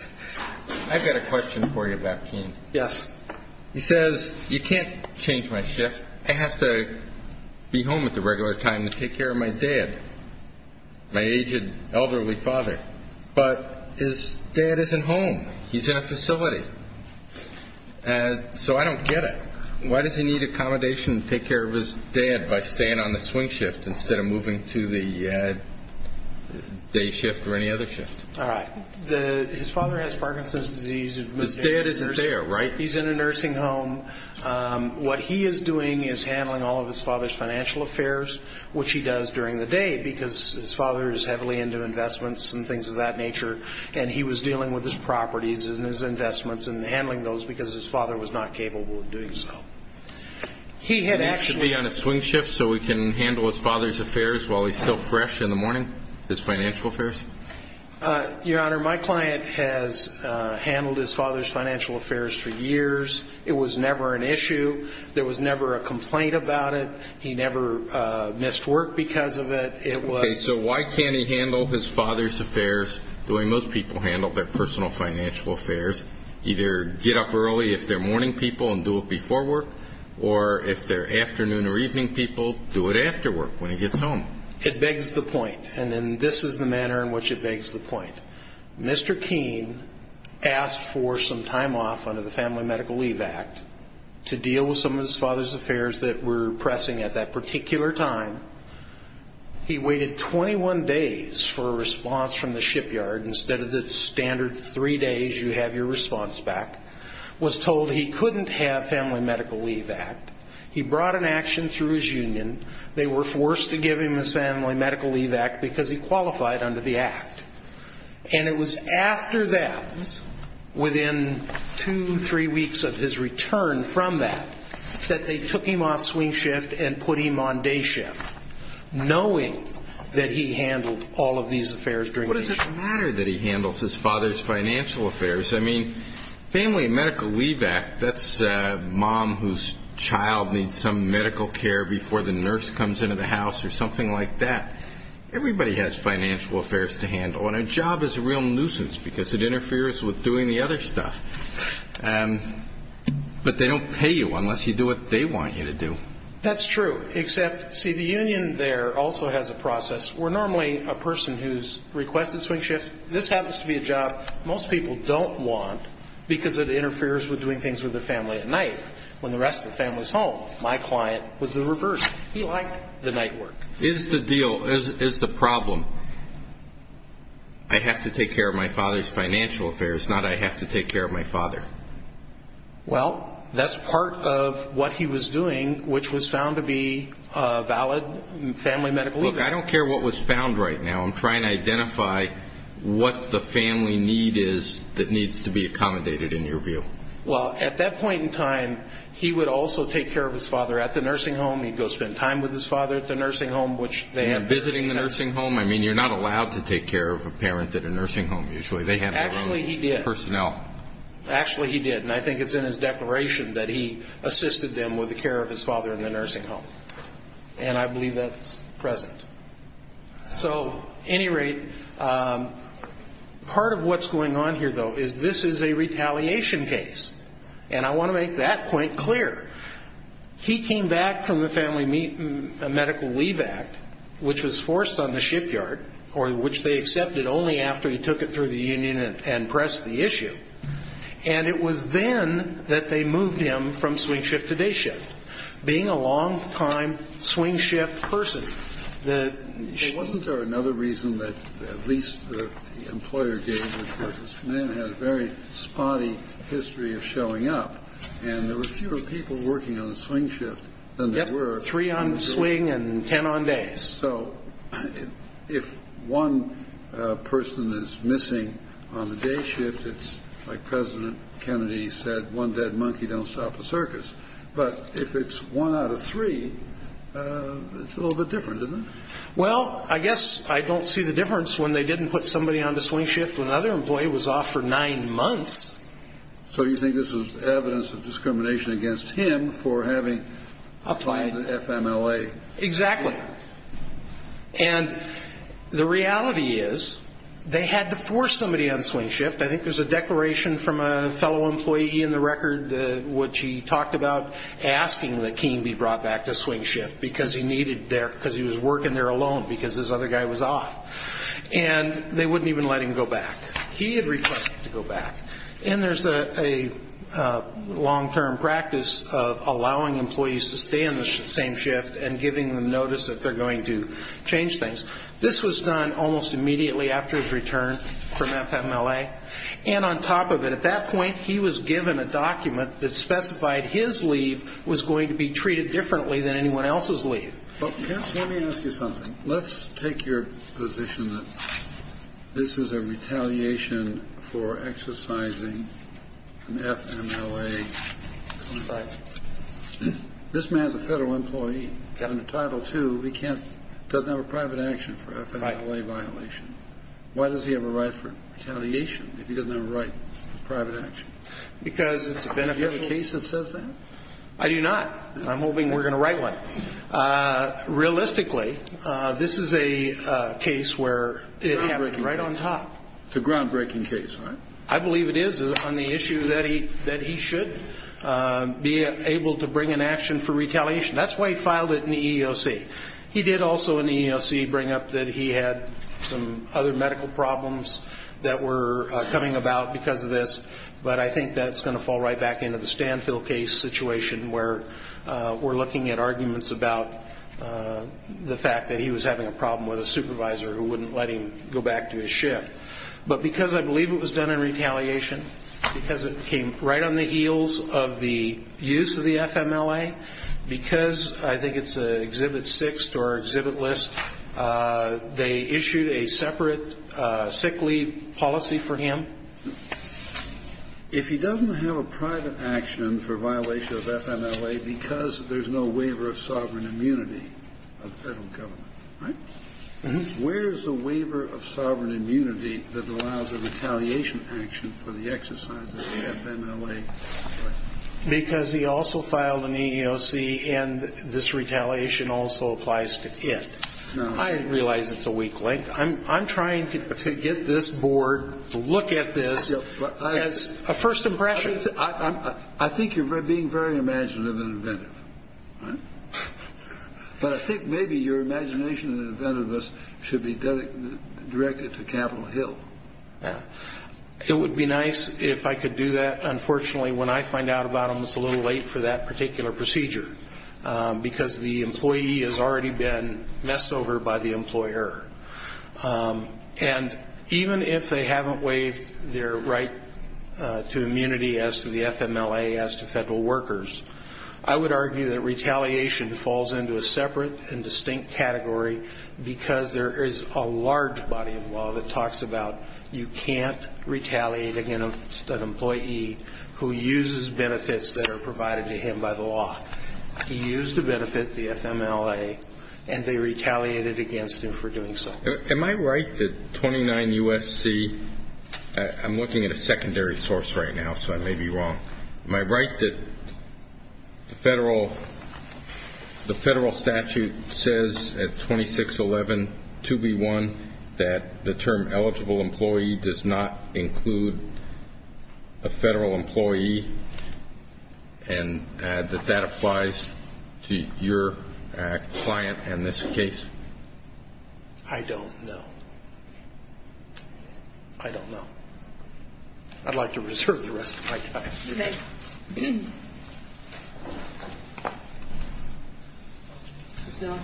I've got a question for you about Kean. Yes. He says, you can't change my shift. I have to be home at the regular time to take care of my dad, my aged, elderly father. But his dad isn't home. He's in a facility. So I don't get it. Why does he need accommodation to take care of his dad by staying on the swing shift instead of moving to the day shift or any other shift? All right. His father has Parkinson's disease. His dad isn't there, right? He's in a nursing home. What he is doing is handling all of his father's financial affairs, which he does during the day because his father is heavily into investments and things of that nature. And he was dealing with his properties and his investments and handling those because his father was not capable of doing so. He had actually been on a swing shift so he can handle his father's affairs while he's still fresh in the morning, his financial affairs? Your Honor, my client has handled his father's financial affairs for years. It was never an issue. There was never a complaint about it. He never missed work because of it. So why can't he handle his father's affairs the way most people handle their personal financial affairs, either get up early if they're morning people and do it before work, or if they're afternoon or evening people, do it after work when he gets home? It begs the point, and this is the manner in which it begs the point. Mr. Keene asked for some time off under the Family Medical Leave Act to deal with some of his father's affairs that were pressing at that particular time. He waited 21 days for a response from the shipyard. Instead of the standard three days, you have your response back. He was told he couldn't have Family Medical Leave Act. He brought an action through his union. They were forced to give him his Family Medical Leave Act because he qualified under the act. And it was after that, within two, three weeks of his return from that, that they took him off swing shift and put him on day shift, knowing that he handled all of these affairs during day shift. What does it matter that he handles his father's financial affairs? I mean, Family Medical Leave Act, that's a mom whose child needs some medical care before the nurse comes into the house or something like that. Everybody has financial affairs to handle, and a job is a real nuisance because it interferes with doing the other stuff. But they don't pay you unless you do what they want you to do. That's true, except, see, the union there also has a process. We're normally a person who's requested swing shift. This happens to be a job most people don't want because it interferes with doing things with their family at night when the rest of the family is home. My client was the reverse. He liked the night work. Is the deal, is the problem, I have to take care of my father's financial affairs, not I have to take care of my father? Well, that's part of what he was doing, which was found to be valid Family Medical Leave Act. Look, I don't care what was found right now. I'm trying to identify what the family need is that needs to be accommodated, in your view. Well, at that point in time, he would also take care of his father at the nursing home. He'd go spend time with his father at the nursing home. And visiting the nursing home? I mean, you're not allowed to take care of a parent at a nursing home, usually. They have their own personnel. Actually, he did, and I think it's in his declaration that he assisted them with the care of his father in the nursing home. And I believe that's present. So, at any rate, part of what's going on here, though, is this is a retaliation case. And I want to make that point clear. He came back from the Family Medical Leave Act, which was forced on the shipyard, or which they accepted only after he took it through the union and pressed the issue. And it was then that they moved him from swing shift to day shift. Being a long-time swing shift person, the ship. Wasn't there another reason that at least the employer gave this person? This man had a very spotty history of showing up, and there were fewer people working on the swing shift than there were. Yep. Three on swing and ten on days. So if one person is missing on the day shift, it's like President Kennedy said, one dead monkey don't stop the circus. But if it's one out of three, it's a little bit different, isn't it? Well, I guess I don't see the difference when they didn't put somebody on the swing shift when the other employee was off for nine months. So you think this is evidence of discrimination against him for having applied to FMLA? Exactly. And the reality is they had to force somebody on swing shift. I think there's a declaration from a fellow employee in the record which he talked about asking that Keene be brought back to swing shift because he was working there alone because this other guy was off. And they wouldn't even let him go back. He had requested to go back. And there's a long-term practice of allowing employees to stay in the same shift and giving them notice that they're going to change things. This was done almost immediately after his return from FMLA. And on top of it, at that point he was given a document that specified his leave was going to be treated differently than anyone else's leave. Let me ask you something. Let's take your position that this is a retaliation for exercising an FMLA contract. This man's a federal employee. He's got a new title too. He doesn't have a private action for FMLA violation. Why does he have a right for retaliation if he doesn't have a right for private action? Because it's beneficial. Do you have a case that says that? I do not. I'm hoping we're going to write one. Realistically, this is a case where it happened right on top. It's a groundbreaking case, right? I believe it is on the issue that he should be able to bring an action for retaliation. That's why he filed it in the EEOC. He did also in the EEOC bring up that he had some other medical problems that were coming about because of this. But I think that's going to fall right back into the Stanfield case situation where we're looking at arguments about the fact that he was having a problem with a supervisor who wouldn't let him go back to his shift. But because I believe it was done in retaliation, because it came right on the heels of the use of the FMLA, because I think it's Exhibit 6 or Exhibit List, they issued a separate sick leave policy for him. If he doesn't have a private action for violation of FMLA because there's no waiver of sovereign immunity of the federal government, right, where is the waiver of sovereign immunity that allows a retaliation action for the exercise of the FMLA? Because he also filed an EEOC, and this retaliation also applies to it. I realize it's a weak link. I'm trying to get this board to look at this as a first impression. I think you're being very imaginative and inventive. But I think maybe your imagination and inventiveness should be directed to Capitol Hill. It would be nice if I could do that. Unfortunately, when I find out about them, it's a little late for that particular procedure because the employee has already been messed over by the employer. And even if they haven't waived their right to immunity as to the FMLA as to federal workers, I would argue that retaliation falls into a separate and distinct category because there is a large body of law that talks about you can't retaliate against an employee who uses benefits that are provided to him by the law. He used to benefit the FMLA, and they retaliated against him for doing so. Am I right that 29 U.S.C. I'm looking at a secondary source right now, so I may be wrong. Am I right that the federal statute says at 2611 2B1 that the term eligible employee does not include a federal employee and that that applies to your client in this case? I don't know. I don't know. I'd like to reserve the rest of my time. Thank you. Ms. Miller.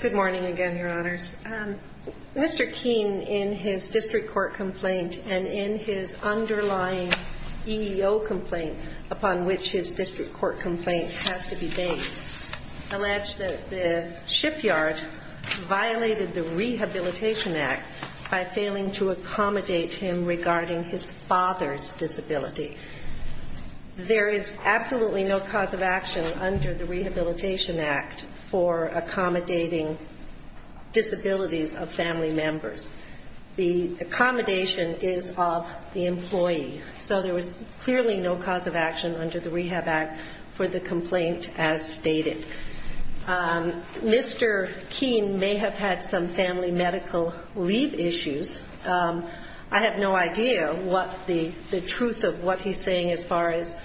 Good morning again, Your Honors. Mr. Keene, in his district court complaint and in his underlying EEO complaint upon which his district court complaint has to be based, alleged that the shipyard violated the Rehabilitation Act by failing to accommodate him regarding his father's disability. There is absolutely no cause of action under the Rehabilitation Act for accommodating disabilities of family members. The accommodation is of the employee, so there was clearly no cause of action under the Rehab Act for the complaint as stated. Mr. Keene may have had some family medical leave issues. I have no idea what the truth of what he's saying as far as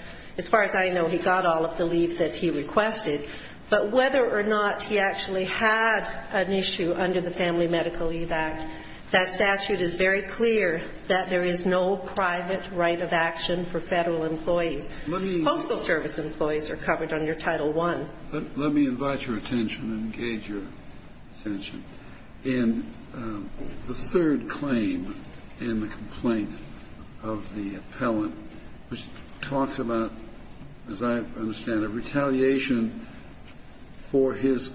I know. He got all of the leave that he requested, but whether or not he actually had an issue under the Family Medical Leave Act, that statute is very clear that there is no private right of action for federal employees. Postal service employees are covered under Title I. Let me invite your attention and engage your attention. In the third claim in the complaint of the appellant, which talks about, as I understand it, for his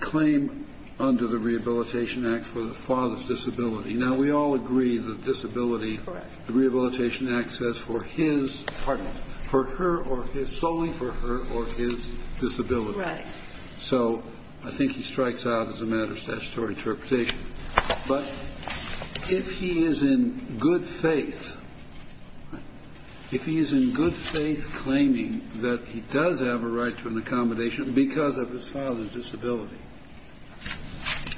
claim under the Rehabilitation Act for the father's disability. Now, we all agree that disability, the Rehabilitation Act says for his, pardon me, for her or his, solely for her or his disability. Right. So I think he strikes out as a matter of statutory interpretation. But if he is in good faith, if he is in good faith claiming that he does have a right to an accommodation because of his father's disability,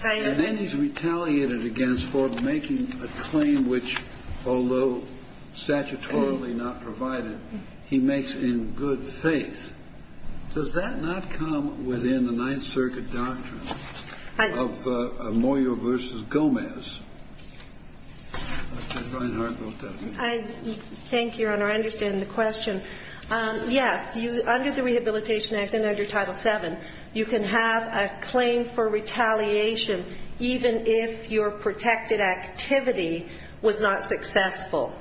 and then he's retaliated against for making a claim which, although statutorily not provided, he makes in good faith, does that not come within the Ninth Circuit doctrine of Moyo v. Gomez? Dr. Reinhart wrote that. Thank you, Your Honor. I understand the question. Yes, under the Rehabilitation Act and under Title VII, you can have a claim for retaliation even if your protected activity was not successful.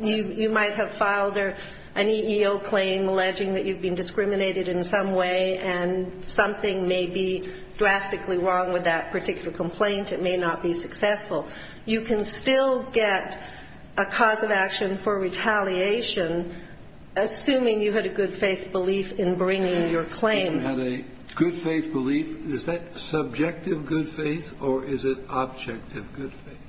You might have filed an EEO claim alleging that you've been discriminated in some way and something may be drastically wrong with that particular complaint. It may not be successful. You can still get a cause of action for retaliation assuming you had a good faith belief in bringing your claim. You had a good faith belief. Is that subjective good faith or is it objective good faith?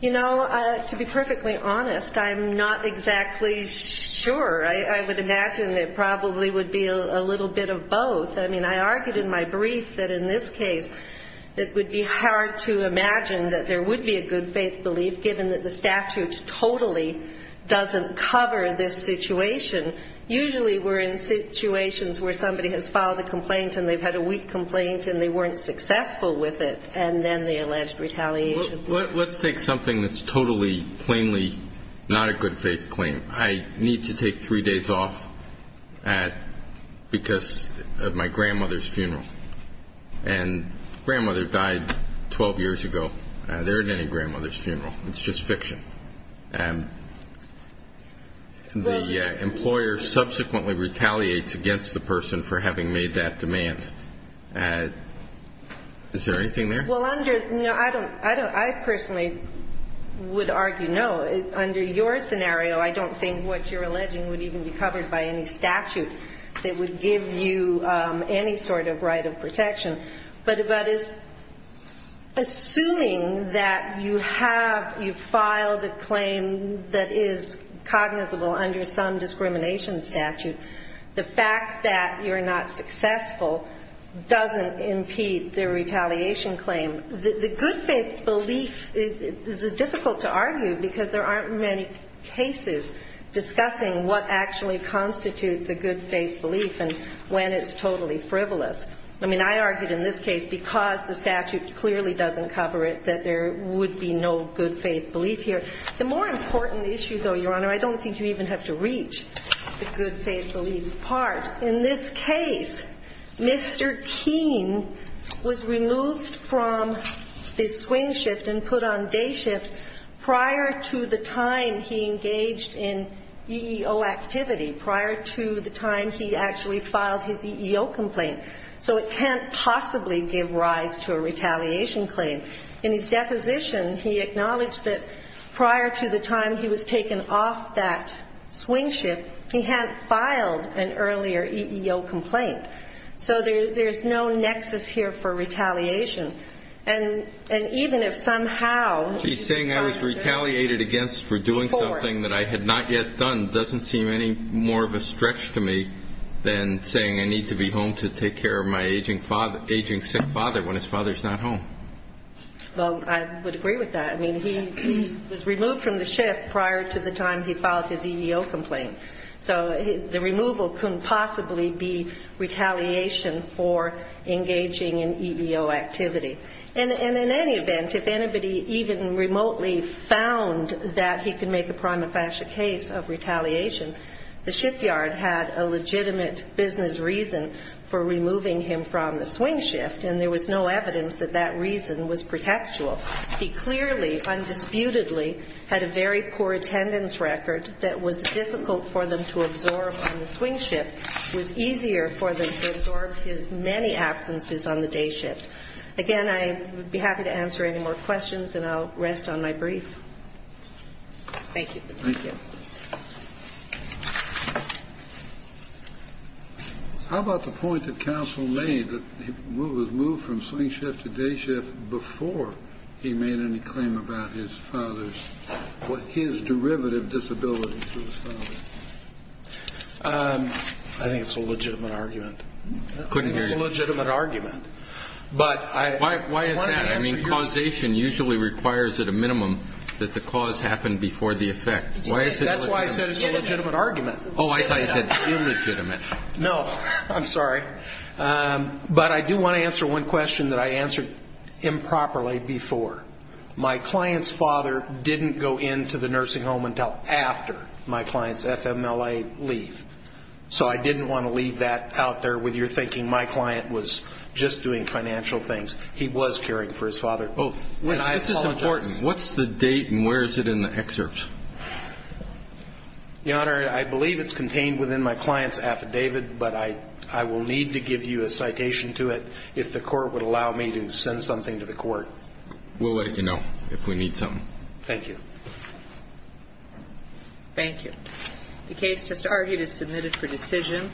You know, to be perfectly honest, I'm not exactly sure. I would imagine it probably would be a little bit of both. I mean, I argued in my brief that in this case it would be hard to imagine that there would be a good faith belief given that the statute totally doesn't cover this situation. Usually we're in situations where somebody has filed a complaint and they've had a weak complaint and they weren't successful with it, and then the alleged retaliation. Let's take something that's totally, plainly not a good faith claim. I need to take three days off because of my grandmother's funeral. And grandmother died 12 years ago. There isn't any grandmother's funeral. It's just fiction. The employer subsequently retaliates against the person for having made that demand. Is there anything there? I personally would argue no. Under your scenario, I don't think what you're alleging would even be covered by any statute that would give you any sort of right of protection. But assuming that you have filed a claim that is cognizable under some discrimination statute, the fact that you're not successful doesn't impede the retaliation claim. The good faith belief is difficult to argue because there aren't many cases discussing what actually constitutes a good faith belief and when it's totally frivolous. I mean, I argued in this case, because the statute clearly doesn't cover it, that there would be no good faith belief here. The more important issue, though, Your Honor, I don't think you even have to reach the good faith belief part. In this case, Mr. Keene was removed from the swing shift and put on day shift prior to the time he engaged in EEO activity, prior to the time he actually filed his EEO complaint. So it can't possibly give rise to a retaliation claim. In his deposition, he acknowledged that prior to the time he was taken off that swing shift, he had filed an earlier EEO complaint. So there's no nexus here for retaliation. And even if somehow he found that... He's saying I was retaliated against for doing something that I had not yet done doesn't seem any more of a stretch to me than saying I need to be home to take care of my aging sick father when his father's not home. Well, I would agree with that. I mean, he was removed from the shift prior to the time he filed his EEO complaint. So the removal couldn't possibly be retaliation for engaging in EEO activity. And in any event, if anybody even remotely found that he could make a prima facie case of retaliation, the shipyard had a legitimate business reason for removing him from the swing shift, and there was no evidence that that reason was pretextual. He clearly, undisputedly, had a very poor attendance record that was difficult for them to absorb on the swing shift. It was easier for them to absorb his many absences on the day shift. Again, I would be happy to answer any more questions, and I'll rest on my brief. Thank you. Thank you. How about the point that counsel made that he was moved from swing shift to day shift before he made any claim about his derivative disability to his father? I think it's a legitimate argument. I think it's a legitimate argument. But why is that? I mean, causation usually requires at a minimum that the cause happen before the effect. That's why I said it's a legitimate argument. Oh, I thought you said illegitimate. No, I'm sorry. But I do want to answer one question that I answered improperly before. My client's father didn't go into the nursing home until after my client's FMLA leave. So I didn't want to leave that out there with your thinking my client was just doing financial things. He was caring for his father. This is important. What's the date and where is it in the excerpt? Your Honor, I believe it's contained within my client's affidavit, but I will need to give you a citation to it if the court would allow me to send something to the court. We'll let you know if we need something. Thank you. Thank you. The case just argued is submitted for decision.